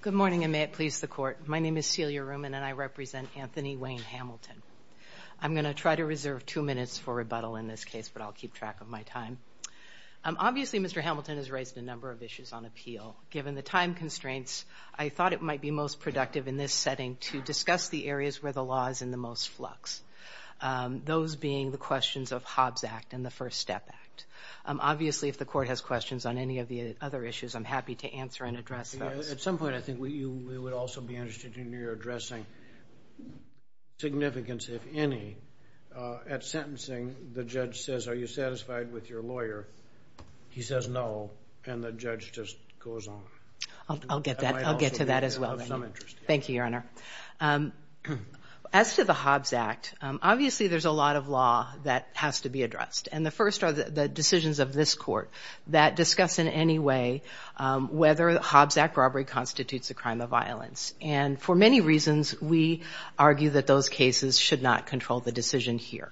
Good morning and may it please the court. My name is Celia Ruman and I represent Anthony Wayne Hamilton. I'm gonna try to reserve two minutes for rebuttal in this case but I'll keep track of my time. Obviously Mr. Hamilton has raised a number of issues on appeal. Given the time constraints I thought it might be most productive in this setting to discuss the areas where the law is in the most flux. Those being the questions of Hobbs Act and the First Step Act. Obviously if the court has questions on any of the other issues I'm happy to At some point I think we would also be interested in your addressing significance if any at sentencing the judge says are you satisfied with your lawyer? He says no and the judge just goes on. I'll get that I'll get to that as well. Thank you your honor. As to the Hobbs Act obviously there's a lot of law that has to be addressed and the first are the decisions of this court that discuss in any way whether the Hobbs Act robbery constitutes a crime of violence and for many reasons we argue that those cases should not control the decision here.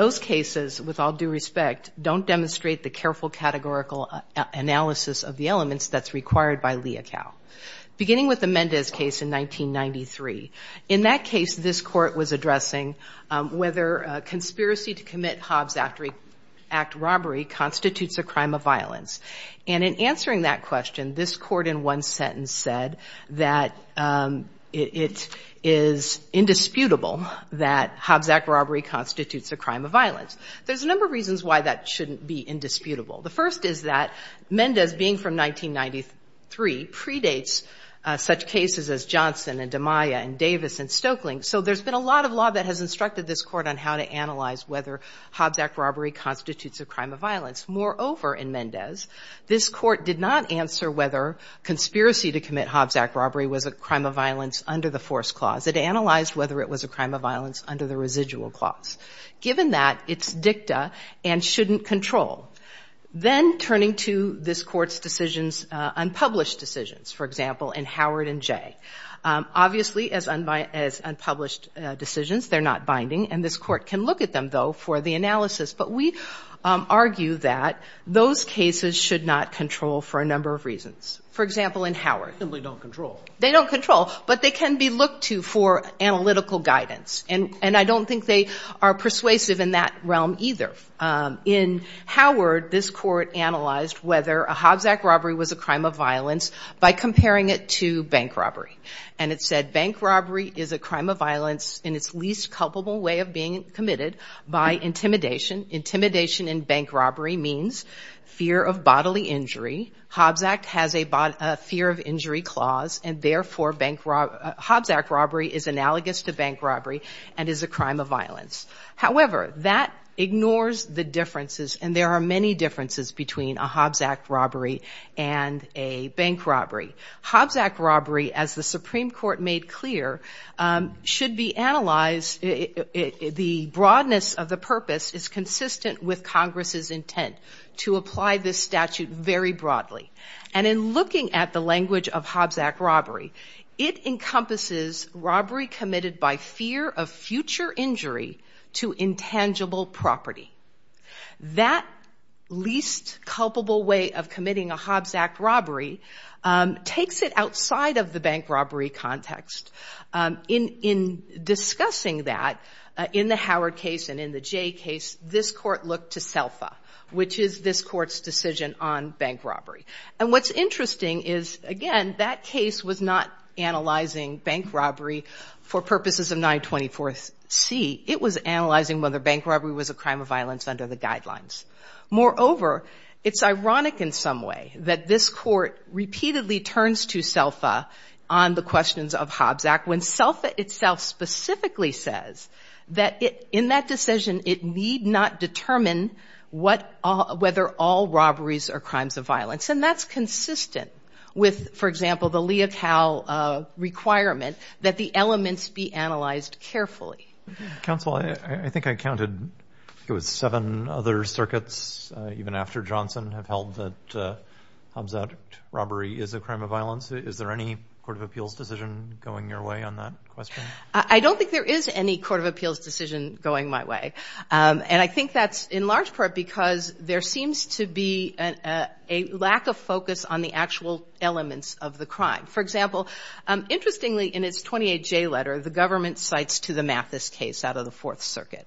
Those cases with all due respect don't demonstrate the careful categorical analysis of the elements that's required by Leocal. Beginning with the Mendez case in 1993 in that case this court was addressing whether conspiracy to commit Hobbs Act robbery constitutes a crime of violence and in answering that question this court in one sentence said that it is indisputable that Hobbs Act robbery constitutes a crime of violence. There's a number of reasons why that shouldn't be indisputable. The first is that Mendez being from 1993 predates such cases as Johnson and DeMaia and Davis and Stoeckling so there's been a lot of law that has instructed this court on how to analyze whether Hobbs Act robbery constitutes a crime of violence. Moreover in Mendez this court did not answer whether conspiracy to commit Hobbs Act robbery was a crime of violence under the force clause. It analyzed whether it was a crime of violence under the residual clause. Given that it's dicta and shouldn't control. Then turning to this court's decisions unpublished decisions for example in Howard and Jay. Obviously as unpublished decisions they're not binding and this court can look at them though for the analysis but we argue that those cases should not control for a number of reasons. For example in Howard. They don't control but they can be looked to for analytical guidance and and I don't think they are persuasive in that realm either. In Howard this court analyzed whether a Hobbs Act robbery was a crime of violence by comparing it to bank robbery and it said bank robbery is a crime of violence in its least culpable way of being committed by intimidation. Intimidation in bank robbery means fear of bodily injury. Hobbs Act has a fear of injury clause and therefore Hobbs Act robbery is analogous to bank robbery and is a crime of violence. However that ignores the differences and there are many differences between a Hobbs Act robbery and a bank robbery. Hobbs Act robbery as the Supreme Court made clear should be analyzed the broadness of the purpose is consistent with Congress's intent to apply this statute very broadly and in looking at the language of Hobbs Act robbery it encompasses robbery committed by fear of future injury to intangible property. That least culpable way of committing a Hobbs Act robbery takes it outside of the bank robbery context. In discussing that in the Howard case and in the Jay case this court looked to SELFA which is this court's decision on bank robbery and what's interesting is again that case was not analyzing bank as a crime of violence under the guidelines. Moreover it's ironic in some way that this court repeatedly turns to SELFA on the questions of Hobbs Act when SELFA itself specifically says that it in that decision it need not determine what all whether all robberies are crimes of violence and that's consistent with for example the Leocal requirement that the elements be analyzed carefully. Counsel I think I counted it was seven other circuits even after Johnson have held that Hobbs Act robbery is a crime of violence. Is there any Court of Appeals decision going your way on that question? I don't think there is any Court of Appeals decision going my way and I think that's in large part because there seems to be a lack of focus on the actual elements of the crime. For example interestingly in its 28 J letter the government cites to the Mathis case out of the Fourth Circuit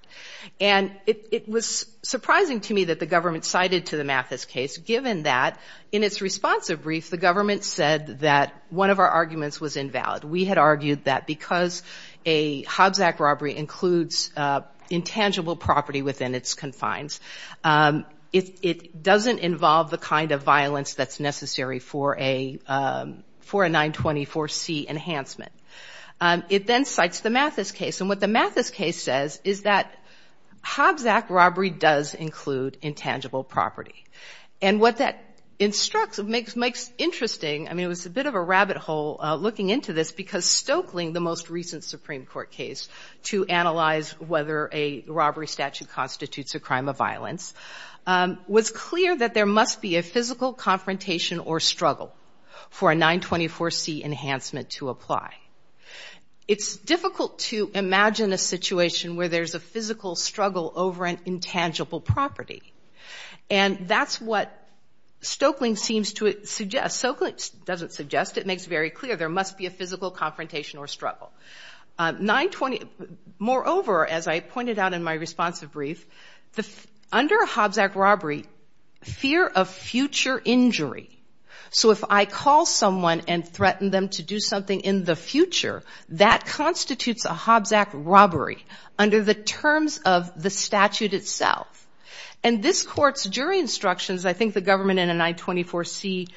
and it was surprising to me that the government cited to the Mathis case given that in its responsive brief the government said that one of our arguments was invalid. We had argued that because a Hobbs Act robbery includes intangible property within its confines it doesn't involve the kind of violence that's necessary for a for a 924 C enhancement. It then cites the Mathis case and what the Mathis case says is that Hobbs Act robbery does include intangible property and what that instructs it makes makes interesting I mean it was a bit of a rabbit hole looking into this because Stokeling the most recent Supreme Court case to analyze whether a robbery statute constitutes a crime of violence was clear that there must be a physical confrontation or struggle for a 924 C enhancement to apply. It's difficult to imagine a situation where there's a physical struggle over an intangible property and that's what Stokeling seems to suggest. Stokeling doesn't suggest it makes very clear there must be a physical confrontation or struggle. Moreover, as I pointed out in my responsive brief, under a Hobbs Act robbery fear of future injury. So if I call someone and threaten them to do something in the future that constitutes a Hobbs Act robbery under the terms of the statute itself and this court's jury instructions I think the government in a 924 C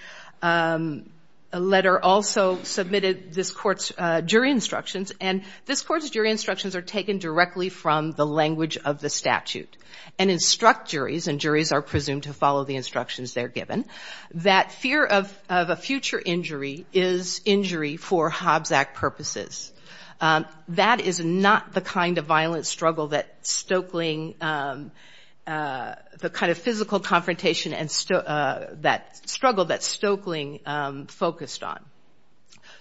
letter also submitted this court's jury instructions and this court's jury instructions are taken directly from the language of the statute and instruct juries and juries are presumed to follow the instructions they're given that fear of a future injury is injury for Hobbs Act purposes. That is not the kind of violent struggle that Stokeling the kind of physical confrontation and that struggle that Stokeling focused on.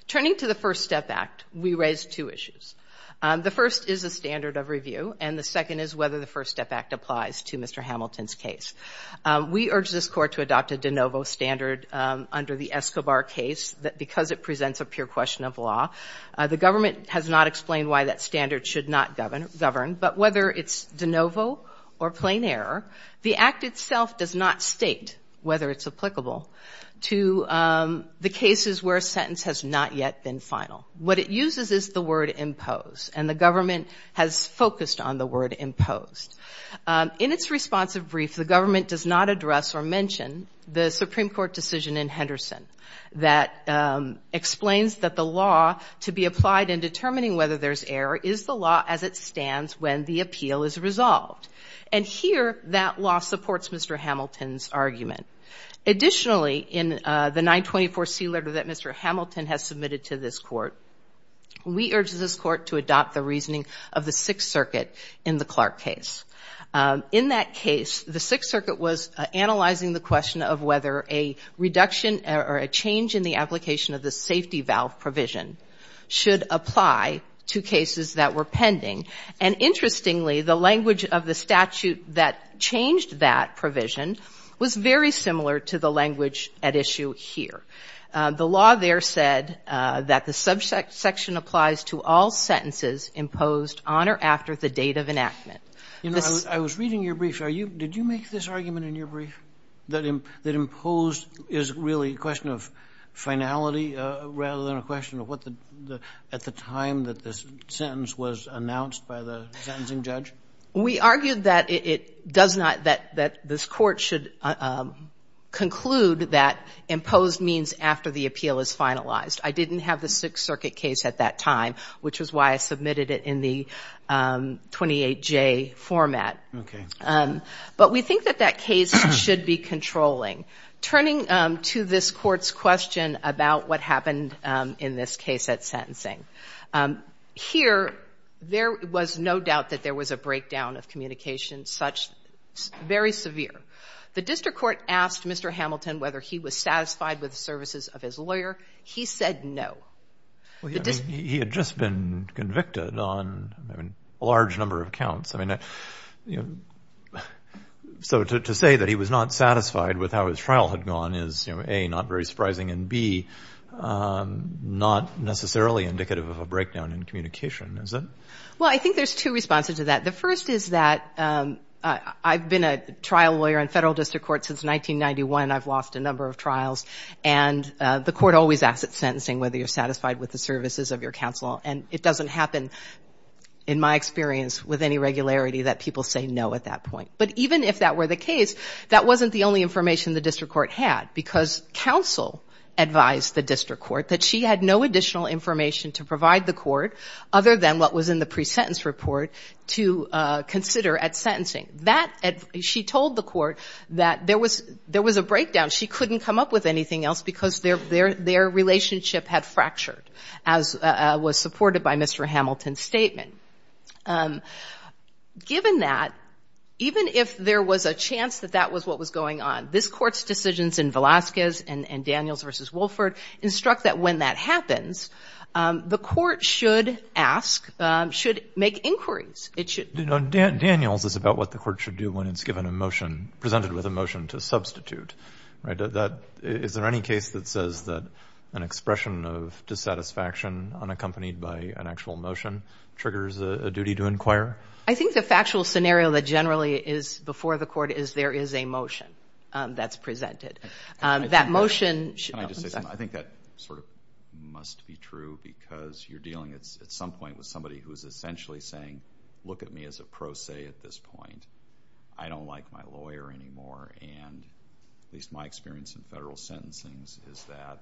Turning to the First Step Act we raised two issues. The first is a standard of review and the second is whether the First Step Act applies to Mr. Hamilton's case. We urge this court to adopt a de novo standard under the Escobar case that because it presents a pure question of law the government has not explained why that standard should not govern but whether it's de novo or plain error the Act itself does not state whether it's applicable to the cases where a sentence has not yet been final. What it uses is the word impose and the government has focused on the word imposed. In its responsive brief the government does not address or mention the Supreme Court decision in Henderson that explains that the law to be applied in determining whether there's error is the law as it Mr. Hamilton's argument. Additionally in the 924 C letter that Mr. Hamilton has submitted to this court we urge this court to adopt the reasoning of the Sixth Circuit in the Clark case. In that case the Sixth Circuit was analyzing the question of whether a reduction or a change in the application of the safety valve provision should apply to cases that were pending and interestingly the statute that changed that provision was very similar to the language at issue here. The law there said that the subsection applies to all sentences imposed on or after the date of enactment. You know I was reading your brief are you did you make this argument in your brief that imposed is really a question of finality rather than a question of what the at the time that this sentence was announced by the sentencing judge? We argued that it does not that that this court should conclude that imposed means after the appeal is finalized. I didn't have the Sixth Circuit case at that time which is why I submitted it in the 28 J format. Okay. But we think that that case should be controlling. Turning to this court's question about what happened in this case at sentencing. Here there was no doubt that there was a breakdown of communication such very severe. The district court asked Mr. Hamilton whether he was satisfied with services of his lawyer. He said no. He had just been convicted on a large number of counts. I mean you know so to say that he was not satisfied with how his trial had gone is you know a not very surprising and B not necessarily indicative of a breakdown in communication is it? Well I think there's two responses to that. The first is that I've been a trial lawyer in federal district court since 1991. I've lost a number of trials and the court always asks at sentencing whether you're satisfied with the services of your counsel and it doesn't happen in my experience with any regularity that people say no at that point. But even if that were the case that wasn't the only information the district court had because counsel advised the district court that she had no additional information to provide the court other than what was in the pre-sentence report to consider at sentencing. That she told the court that there was there was a breakdown. She couldn't come up with anything else because their relationship had fractured as was supported by Mr. Hamilton's statement. Given that even if there was a chance that that was what was going on this court's decisions in Velasquez and that when that happens the court should ask should make inquiries. It should know Dan Daniels is about what the court should do when it's given a motion presented with a motion to substitute right that is there any case that says that an expression of dissatisfaction unaccompanied by an actual motion triggers a duty to inquire? I think the factual scenario that generally is before the court is there is a motion that's presented. That motion I think that sort of must be true because you're dealing at some point with somebody who's essentially saying look at me as a pro se at this point. I don't like my lawyer anymore and at least my experience in federal sentencing is that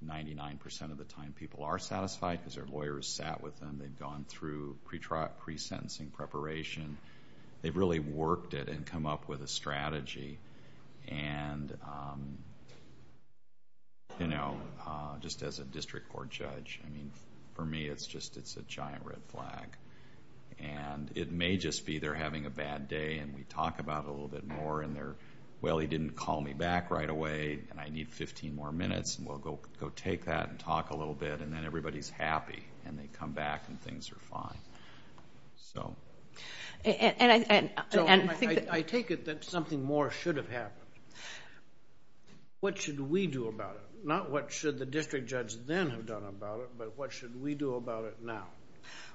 ninety-nine percent of the time people are satisfied because their lawyer sat with them. They've gone through pre-sentencing preparation. They've really worked it and come up with a strategy. Just as a district court judge, I mean for me it's just a giant red flag. It may just be they're having a bad day and we talk about it a little bit more and they're, well he didn't call me back right away and I need fifteen more minutes and we'll go take that and talk a little bit and then everybody's happy and they come back and things are fine. I take it that something more should have happened. What should we do about it? Not what should the district judge then have done about it, but what should we do about it now?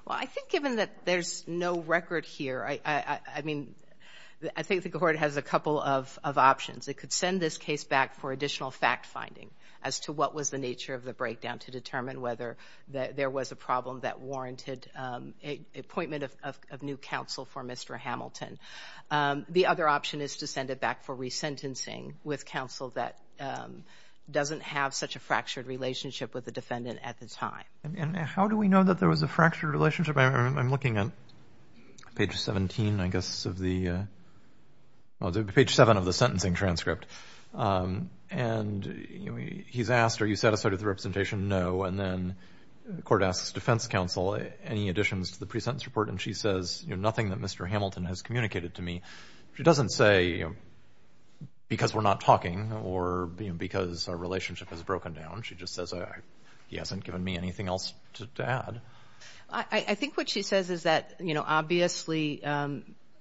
Well I think given that there's no record here, I mean I think the court has a couple of options. It could send this case back for additional fact-finding as to what was the nature of the breakdown to appointment of new counsel for Mr. Hamilton. The other option is to send it back for re-sentencing with counsel that doesn't have such a fractured relationship with the defendant at the time. And how do we know that there was a fractured relationship? I'm looking at page 17 I guess of the page 7 of the sentencing transcript and he's asked are you satisfied with the representation? No. And then the court asks defense counsel any additions to the pre-sentence report and she says you know nothing that Mr. Hamilton has communicated to me. She doesn't say because we're not talking or being because our relationship has broken down. She just says he hasn't given me anything else to add. I think what she says is that you know obviously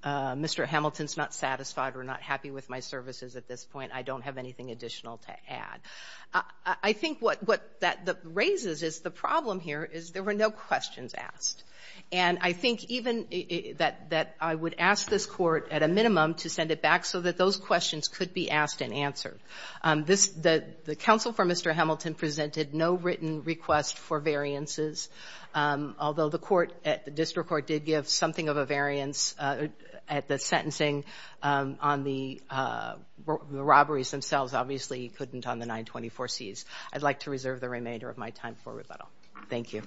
Mr. Hamilton's not satisfied or not happy with my services at this point. I don't have anything additional to add. I think what that raises is the problem here is there were no questions asked. And I think even that I would ask this court at a minimum to send it back so that those questions could be asked and answered. The counsel for Mr. Hamilton presented no written request for variances, although the court at the district court did give something of a variance at the sentencing on the robberies themselves. Obviously he couldn't on the 924 C's. I'd like to reserve the remainder of my time for rebuttal. Thank you.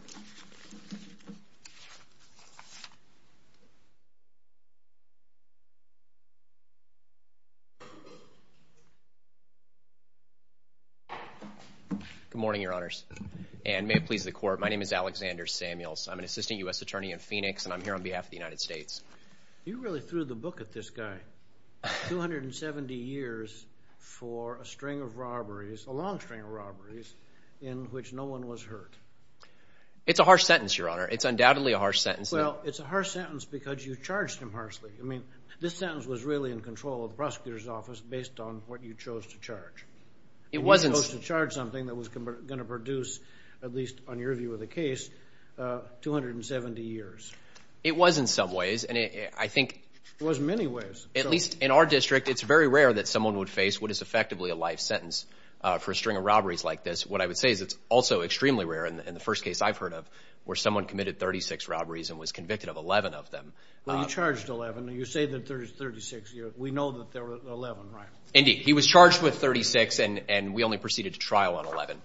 Good morning your honors and may it please the court. My name is Alexander Samuels. I'm an assistant U.S. attorney in Phoenix and I'm here on behalf of the It's a harsh sentence your honor. It's undoubtedly a harsh sentence. Well it's a harsh sentence because you charged him harshly. I mean this sentence was really in control of the prosecutor's office based on what you chose to charge. It wasn't supposed to charge something that was going to produce, at least on your view of the case, 270 years. It was in some ways and I think... It was in many ways. At least in our district it's very rare that someone would face what is effectively a life sentence for a string of robberies like this. What I would say is it's also extremely rare in the first case I've heard of where someone committed 36 robberies and was convicted of 11 of them. Well you charged 11. You say that there's 36. We know that there were 11, right? Indeed. He was charged with 36 and we only proceeded to trial on 11.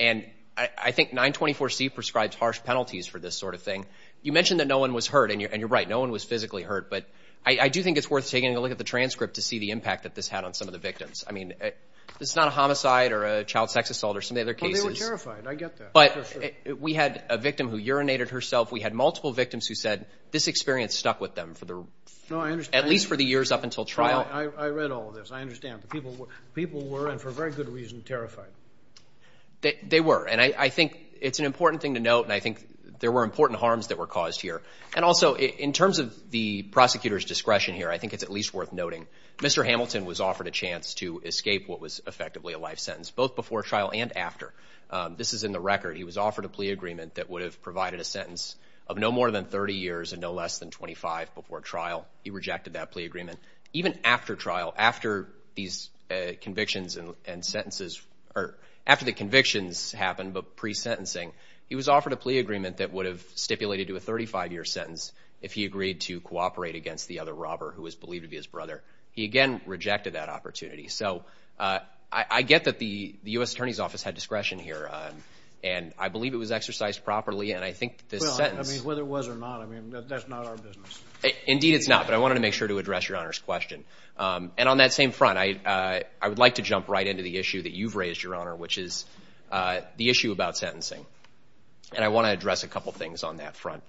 And I think 924 C prescribes harsh penalties for this sort of thing. You mentioned that no one was hurt and you're right. No one was physically hurt. But I do think it's worth taking a look at the transcript to see the impact that this had on some of the victims. I mean this is not a homicide or a child sex assault or some of the other cases. Well they were terrified. I get that. But we had a victim who urinated herself. We had multiple victims who said this experience stuck with them for the... No I understand. At least for the years up until trial. I read all of this. I understand. The people were, and for a very good reason, terrified. They were. And I think it's an important thing to note and I think there were important harms that were caused here. And also in terms of the prosecutor's discretion here, I think it's at least worth noting, Mr. Hamilton was offered a chance to escape what was effectively a life sentence, both before trial and after. This is in the record. He was offered a plea agreement that would have provided a sentence of no more than 30 years and no less than 25 before trial. He rejected that plea agreement. Even after trial, after these convictions and sentences, or after the convictions happened, but pre-sentencing, he was offered a plea agreement that would have stipulated to a 35-year sentence if he agreed to cooperate against the other robber who was believed to be his brother. He again rejected that opportunity. So I get that the U.S. Attorney's Office had discretion here. And I believe it was exercised properly and I think this sentence... Well I mean whether it was or not, I mean that's not our business. Indeed it's not, but I wanted to make sure to address Your Honor's question. And on that same front, I would like to jump right into the issue that you've raised, Your Honor, which is the issue about sentencing. And I want to address a couple things on that front.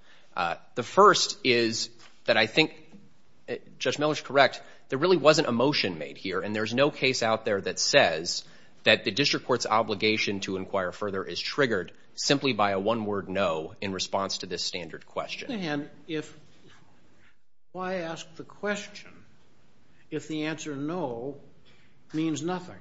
The first is that I think Judge Miller's correct. There really wasn't a motion made here, and there's no case out there that says that the district court's obligation to inquire further is triggered simply by a one-word no in response to this standard question. On the other hand, why ask the question if the answer no means nothing?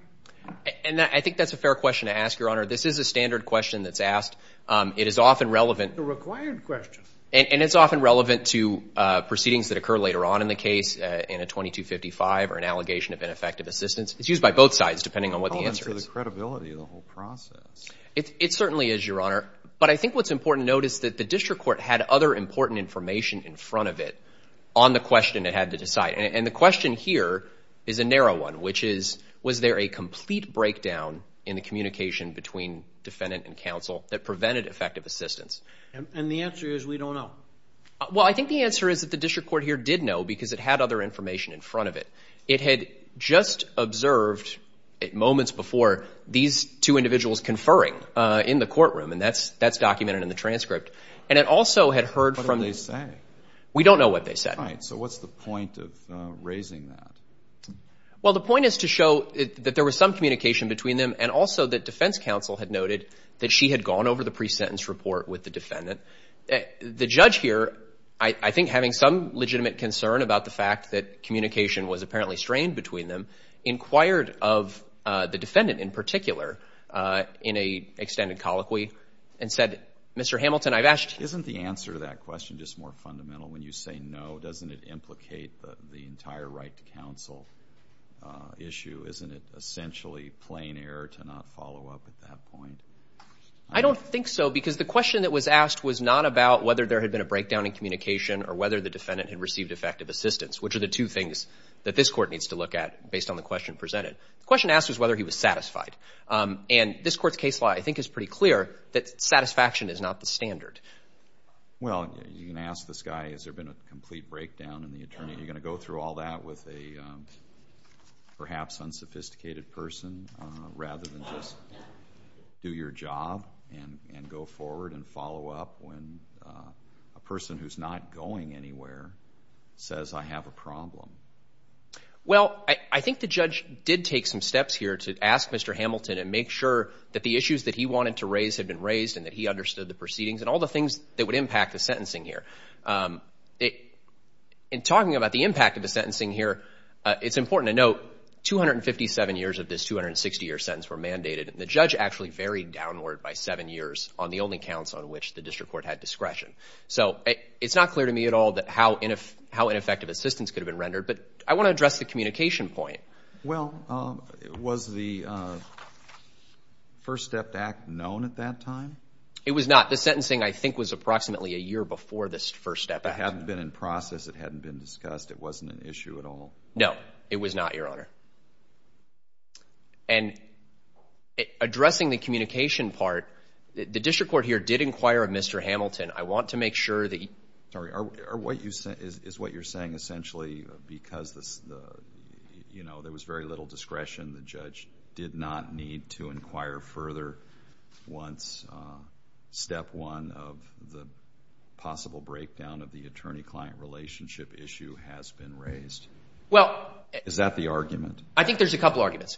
And I think that's a fair question to ask, Your Honor. This is a standard question that's asked. It is often relevant. It's a required question. And it's often relevant to proceedings that occur later on in the case in a 2255 or an allegation of ineffective assistance. It's used by both sides depending on what the answer is. It's relevant to the credibility of the whole process. It certainly is, Your Honor. But I think what's important to note is that the district court had other important information in front of it on the question it had to decide. And the question here is a narrow one, which is, was there a complete breakdown in the communication between defendant and counsel that prevented effective assistance? And the answer is we don't know. Well, I think the answer is that the district court here did know because it had other information in front of it. It had just observed moments before these two individuals conferring in the courtroom, and that's documented in the transcript. And it also had heard from the- What did they say? We don't know what they said. All right. So what's the point of raising that? Well, the point is to show that there was some communication between them and also that defense counsel had noted that she had gone over the presentence report with the defendant. The judge here, I think having some legitimate concern about the fact that communication was apparently strained between them, inquired of the defendant in particular in an extended colloquy and said, Mr. Hamilton, I've asked- Isn't the answer to that question just more fundamental? When you say no, doesn't it implicate the entire right to counsel issue? Isn't it essentially plain error to not follow up at that point? I don't think so because the question that was asked was not about whether there had been a breakdown in communication or whether the defendant had received effective assistance, which are the two things that this court needs to look at based on the question presented. The question asked was whether he was satisfied. And this court's case law, I think, is pretty clear that satisfaction is not the standard. Well, you can ask this guy, has there been a complete breakdown in the attorney? Are you going to go through all that with a perhaps unsophisticated person rather than just do your job and go forward and follow up when a person who's not going anywhere says I have a problem? Well, I think the judge did take some steps here to ask Mr. Hamilton and make sure that the issues that he wanted to raise had been raised and that he understood the proceedings and all the things that would impact the sentencing here. In talking about the impact of the sentencing here, it's important to note 257 years of this 260-year sentence were mandated, and the judge actually varied downward by seven years on the only counts on which the district court had discretion. So it's not clear to me at all how ineffective assistance could have been rendered, but I want to address the communication point. Well, was the First Step Act known at that time? It was not. The sentencing, I think, was approximately a year before this First Step Act. It hadn't been in process. It hadn't been discussed. It wasn't an issue at all. No, it was not, Your Honor. And addressing the communication part, the district court here did inquire of Mr. Hamilton. I want to make sure that you... Sorry. Is what you're saying essentially because there was very little discretion, the judge did not need to inquire further once Step 1 of the possible breakdown of the attorney-client relationship issue has been raised? Well... Is that the argument? I think there's a couple arguments.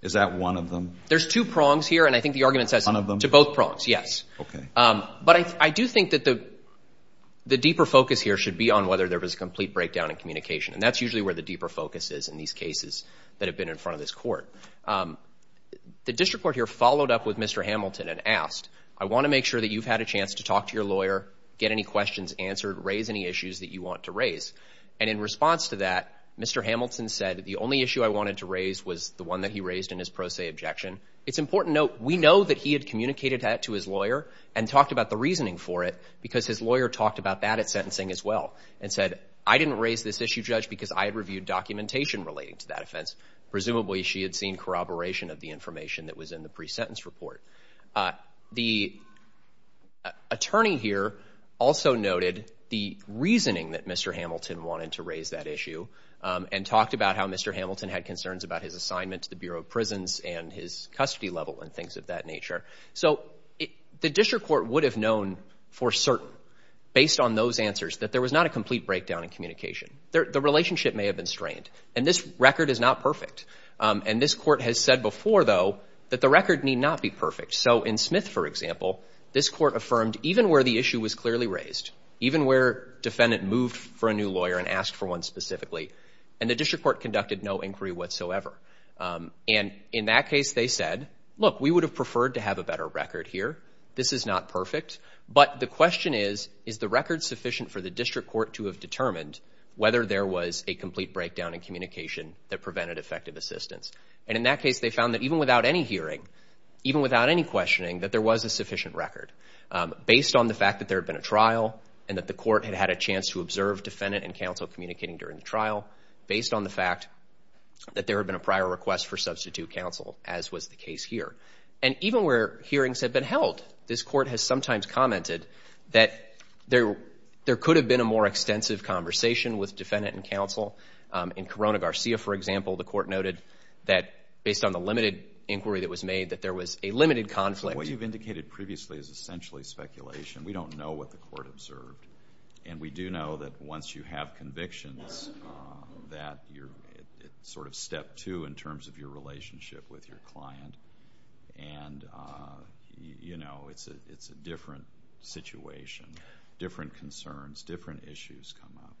Is that one of them? There's two prongs here, and I think the argument says... One of them? ...to both prongs, yes. Okay. But I do think that the deeper focus here should be on whether there was a complete breakdown in communication. And that's usually where the deeper focus is in these cases that have been in front of this court. The district court here followed up with Mr. Hamilton and asked, I want to make sure that you've had a chance to talk to your lawyer, get any questions answered, raise any issues that you want to raise. And in response to that, Mr. Hamilton said, the only issue I wanted to raise was the one that he raised in his pro se objection. It's important to note, we know that he had communicated that to his lawyer and talked about the reasoning for it, because his lawyer talked about that at sentencing as well and said, I didn't raise this issue, Judge, because I had reviewed documentation relating to that offense. Presumably she had seen corroboration of the information that was in the pre-sentence report. The attorney here also noted the reasoning that Mr. Hamilton wanted to raise that issue and talked about how Mr. Hamilton had concerns about his custody level and things of that nature. So the district court would have known for certain, based on those answers, that there was not a complete breakdown in communication. The relationship may have been strained. And this record is not perfect. And this court has said before, though, that the record need not be perfect. So in Smith, for example, this court affirmed, even where the issue was clearly raised, even where defendant moved for a new lawyer and asked for one specifically, and the district court conducted no inquiry whatsoever. And in that case, they said, look, we would have preferred to have a better record here. This is not perfect. But the question is, is the record sufficient for the district court to have determined whether there was a complete breakdown in communication that prevented effective assistance? And in that case, they found that even without any hearing, even without any questioning, that there was a sufficient record. Based on the fact that there had been a trial and that the court had had a chance to observe defendant and counsel communicating during the trial, based on the fact that there had been a prior request for substitute counsel, as was the case here. And even where hearings had been held, this court has sometimes commented that there could have been a more extensive conversation with defendant and counsel. In Corona Garcia, for example, the court noted that based on the limited inquiry that was made, that there was a limited conflict. What you've indicated previously is essentially speculation. We don't know what the court observed. And we do know that once you have convictions, that you're sort of step two in terms of your relationship with your client. And, you know, it's a different situation, different concerns, different issues come up.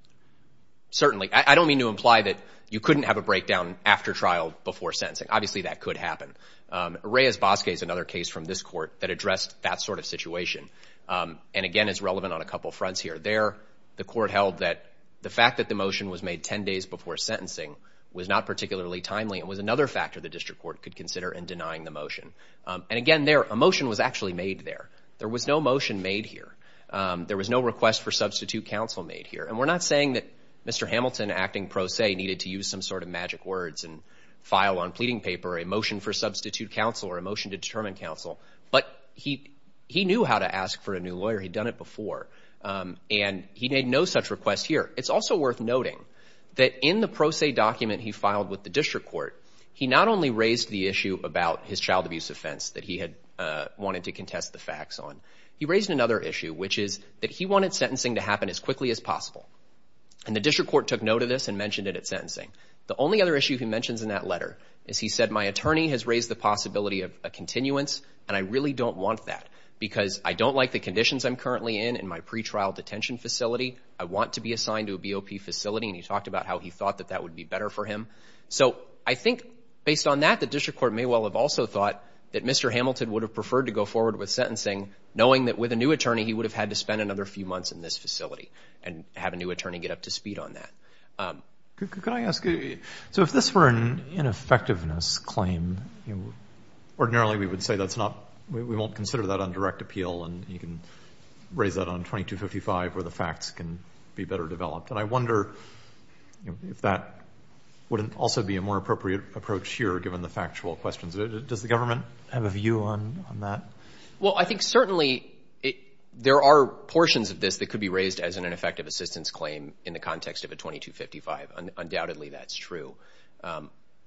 Certainly. I don't mean to imply that you couldn't have a breakdown after trial before sentencing. Obviously, that could happen. Reyes-Basque is another case from this court that addressed that sort of situation. And, again, it's relevant on a couple fronts here. There, the court held that the fact that the motion was made 10 days before sentencing was not particularly timely. It was another factor the district court could consider in denying the motion. And, again, there, a motion was actually made there. There was no motion made here. There was no request for substitute counsel made here. And we're not saying that Mr. Hamilton, acting pro se, needed to use some sort of magic words and file on pleading paper a motion for substitute counsel or a motion to determine counsel. But he knew how to ask for a new lawyer. He'd done it before. And he made no such request here. It's also worth noting that in the pro se document he filed with the district court, he not only raised the issue about his child abuse offense that he had wanted to contest the facts on. He raised another issue, which is that he wanted sentencing to happen as quickly as possible. And the district court took note of this and mentioned it at sentencing. The only other issue he mentions in that letter is he said, my attorney has raised the possibility of a continuance, and I really don't want that because I don't like the conditions I'm currently in in my pretrial detention facility. I want to be assigned to a BOP facility. And he talked about how he thought that that would be better for him. So I think based on that, the district court may well have also thought that Mr. Hamilton would have preferred to go forward with sentencing, knowing that with a new attorney, he would have had to spend another few months in this facility and have a new attorney get up to speed on that. So if this were an ineffectiveness claim, ordinarily we would say that's not, we won't consider that on direct appeal and you can raise that on 2255 where the facts can be better developed. And I wonder if that wouldn't also be a more appropriate approach here, given the factual questions. Does the government have a view on that? Well, I think certainly there are portions of this that could be raised as an undoubtedly that's true.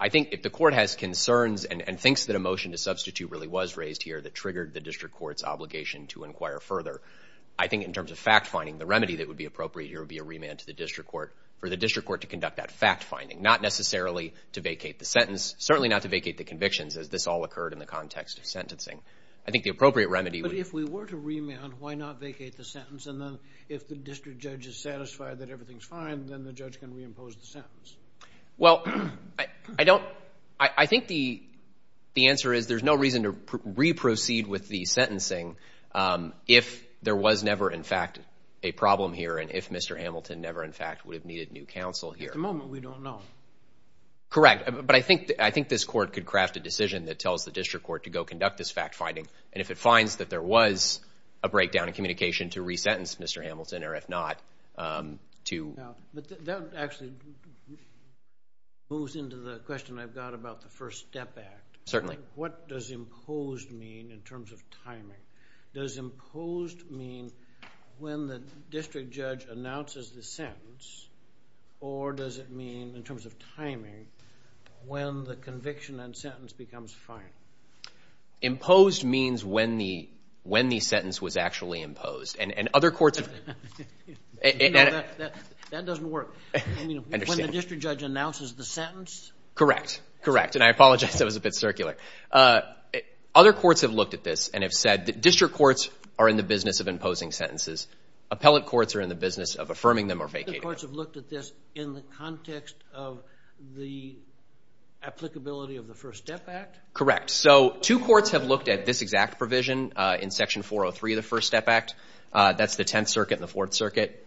I think if the court has concerns and thinks that a motion to substitute really was raised here that triggered the district court's obligation to inquire further, I think in terms of fact finding, the remedy that would be appropriate here would be a remand to the district court for the district court to conduct that fact finding, not necessarily to vacate the sentence, certainly not to vacate the convictions as this all occurred in the context of sentencing. I think the appropriate remedy. But if we were to remand, why not vacate the sentence? And then if the district judge is satisfied that everything's fine, then the judge can reimpose the sentence. Well, I don't, I think the answer is there's no reason to re-proceed with the sentencing if there was never, in fact, a problem here and if Mr. Hamilton never, in fact, would have needed new counsel here. At the moment, we don't know. Correct. But I think this court could craft a decision that tells the district court to go conduct this fact finding. And if it finds that there was a breakdown in communication to resentence Mr. Hamilton, or if not, to. But that actually moves into the question I've got about the First Step Act. Certainly. What does imposed mean in terms of timing? Does imposed mean when the district judge announces the sentence? Or does it mean, in terms of timing, when the conviction and sentence becomes fine? Imposed means when the, when the sentence was actually imposed. That doesn't work. I mean, when the district judge announces the sentence? Correct. Correct. And I apologize. That was a bit circular. Other courts have looked at this and have said that district courts are in the business of imposing sentences. Appellate courts are in the business of affirming them or vacating them. Other courts have looked at this in the context of the applicability of the First Step Act? Correct. So two courts have looked at this exact provision in Section 403 of the First Step Act. That's the Tenth Circuit and the Fourth Circuit.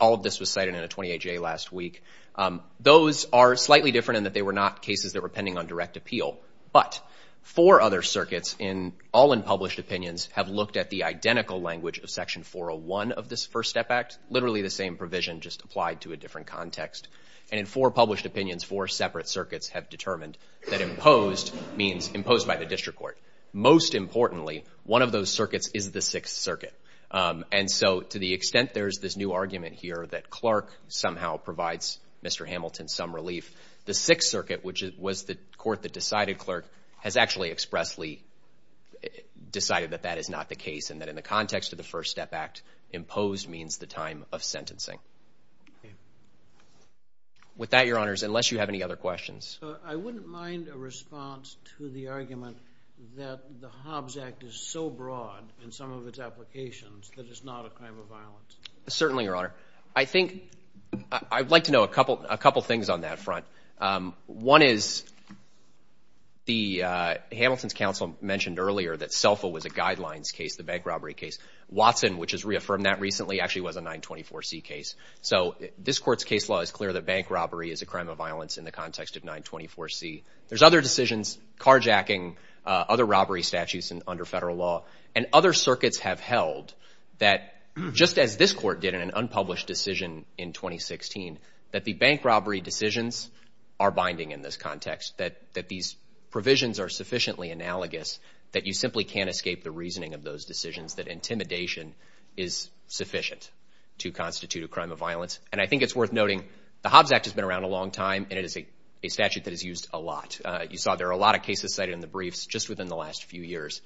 All of this was cited in a 28-J last week. Those are slightly different in that they were not cases that were pending on direct appeal. But four other circuits, all in published opinions, have looked at the identical language of Section 401 of this First Step Act. Literally the same provision, just applied to a different context. And in four published opinions, four separate circuits have determined that imposed means imposed by the district court. Most importantly, one of those circuits is the Sixth Circuit. And so to the extent there's this new argument here that Clark somehow provides Mr. Hamilton some relief, the Sixth Circuit, which was the court that decided Clark, has actually expressly decided that that is not the case and that in the context of the First Step Act, imposed means the time of sentencing. With that, Your Honors, unless you have any other questions. I wouldn't mind a response to the argument that the Hobbs Act is so broad in some of its applications that it's not a crime of violence. Certainly, Your Honor. I think I'd like to know a couple things on that front. One is the Hamilton's counsel mentioned earlier that SELFA was a guidelines case, the bank robbery case. Watson, which has reaffirmed that recently, actually was a 924C case. So this court's case law is clear that bank robbery is a crime of violence in the context of 924C. There's other decisions, carjacking, other robbery statutes under federal law, and other circuits have held that just as this court did in an unpublished decision in 2016, that the bank robbery decisions are binding in this context, that these provisions are sufficiently analogous that you simply can't escape the reasoning of those decisions, that intimidation is sufficient to constitute a crime of violence. And I think it's worth noting the Hobbs Act has been around a long time, and it is a statute that is used a lot. You saw there are a lot of cases cited in the briefs just within the last few years.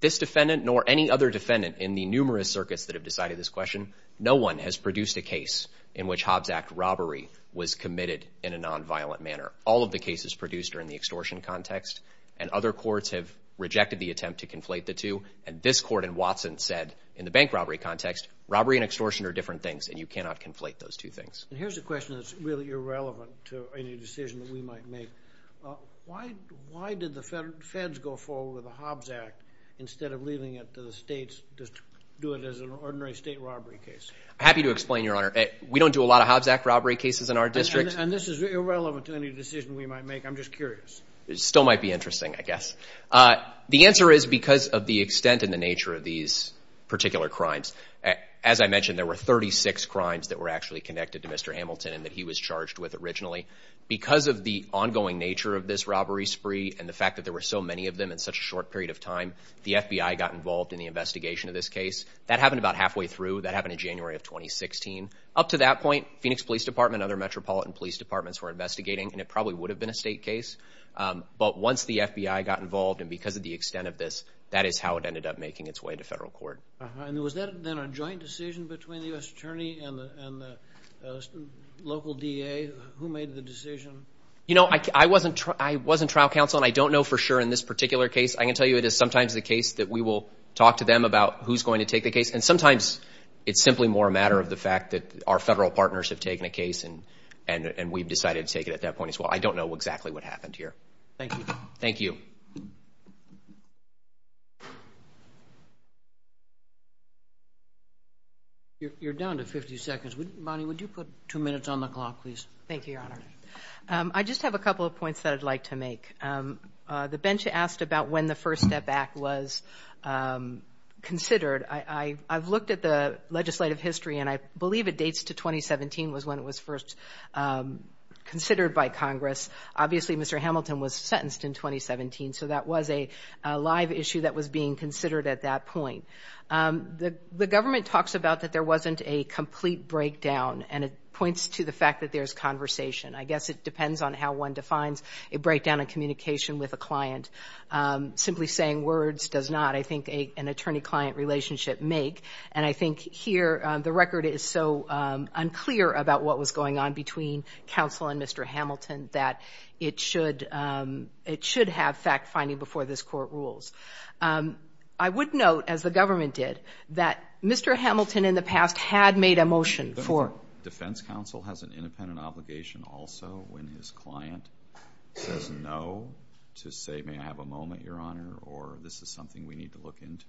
This defendant, nor any other defendant in the numerous circuits that have decided this question, no one has produced a case in which Hobbs Act robbery was committed in a nonviolent manner. All of the cases produced are in the extortion context, and other courts have rejected the attempt to conflate the two. And this court in Watson said in the bank robbery context, robbery and extortion are different things, and you cannot conflate those two things. And here's a question that's really irrelevant to any decision that we might make. Why did the feds go forward with the Hobbs Act instead of leaving it to the states to do it as an ordinary state robbery case? Happy to explain, Your Honor. We don't do a lot of Hobbs Act robbery cases in our district. And this is irrelevant to any decision we might make. I'm just curious. It still might be interesting, I guess. The answer is because of the extent and the nature of these particular crimes. As I mentioned, there were 36 crimes that were actually connected to Mr. Hamilton and that he was charged with originally. Because of the ongoing nature of this robbery spree and the fact that there were so many of them in such a short period of time, the FBI got involved in the investigation of this case. That happened about halfway through. That happened in January of 2016. Up to that point, Phoenix Police Department and other metropolitan police departments were investigating, and it probably would have been a state case. But once the FBI got involved, and because of the extent of this, that is how it ended up making its way to federal court. And was that then a joint decision between the U.S. Attorney and the local DA? Who made the decision? You know, I wasn't trial counsel, and I don't know for sure in this particular case. I can tell you it is sometimes the case that we will talk to them about who's going to take the case. And sometimes it's simply more a matter of the fact that our federal partners have taken a case, and we've decided to take it at that point as well. I don't know exactly what happened here. Thank you. Thank you. You're down to 50 seconds. Bonnie, would you put two minutes on the clock, please? Thank you, Your Honor. I just have a couple of points that I'd like to make. The bench asked about when the First Step Act was considered. I've looked at the legislative history, and I believe it dates to 2017 was when it was first considered by Congress. Obviously, Mr. Hamilton was sentenced in 2017, so that was a live issue that was being considered at that point. The government talks about that there wasn't a complete breakdown, and it points to the fact that there's conversation. I guess it depends on how one defines a breakdown in communication with a client. Simply saying words does not, I think, an attorney-client relationship make. And I think here the record is so unclear about what was going on between counsel and Mr. Hamilton that it should have fact-finding before this Court rules. I would note, as the government did, that Mr. Hamilton in the past had made a motion for... Defense counsel has an independent obligation also when his client says no to say, may I have a moment, Your Honor, or this is something we need to look into?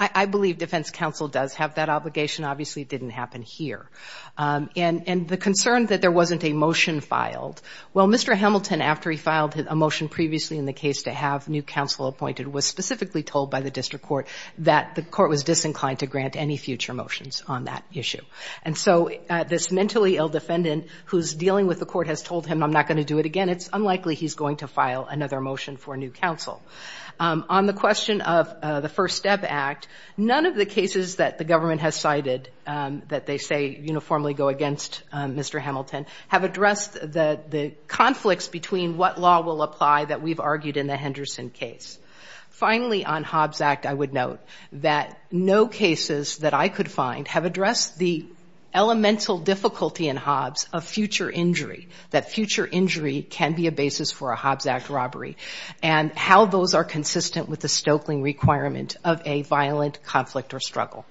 I believe defense counsel does have that obligation. Obviously, it didn't happen here. And the concern that there wasn't a motion filed. Well, Mr. Hamilton, after he filed a motion previously in the case to have new counsel appointed, was specifically told by the district court that the court was disinclined to grant any future motions on that issue. And so this mentally ill defendant who's dealing with the court has told him, I'm not going to do it again. It's unlikely he's going to file another motion for new counsel. On the question of the First Step Act, none of the cases that the government has cited that they say uniformly go against Mr. Hamilton have addressed the conflicts between what law will apply that we've discussed. Finally, on Hobbs Act, I would note that no cases that I could find have addressed the elemental difficulty in Hobbs of future injury, that future injury can be a basis for a Hobbs Act robbery, and how those are consistent with the Stoeckling requirement of a violent conflict or struggle.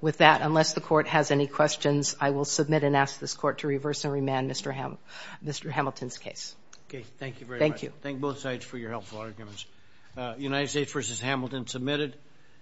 With that, unless the court has any questions, I will submit and ask this court to reverse and remand Mr. Hamilton's case. Okay. Thank you very much. Thank you. Thank you both sides for your helpful arguments. United States versus Hamilton submitted.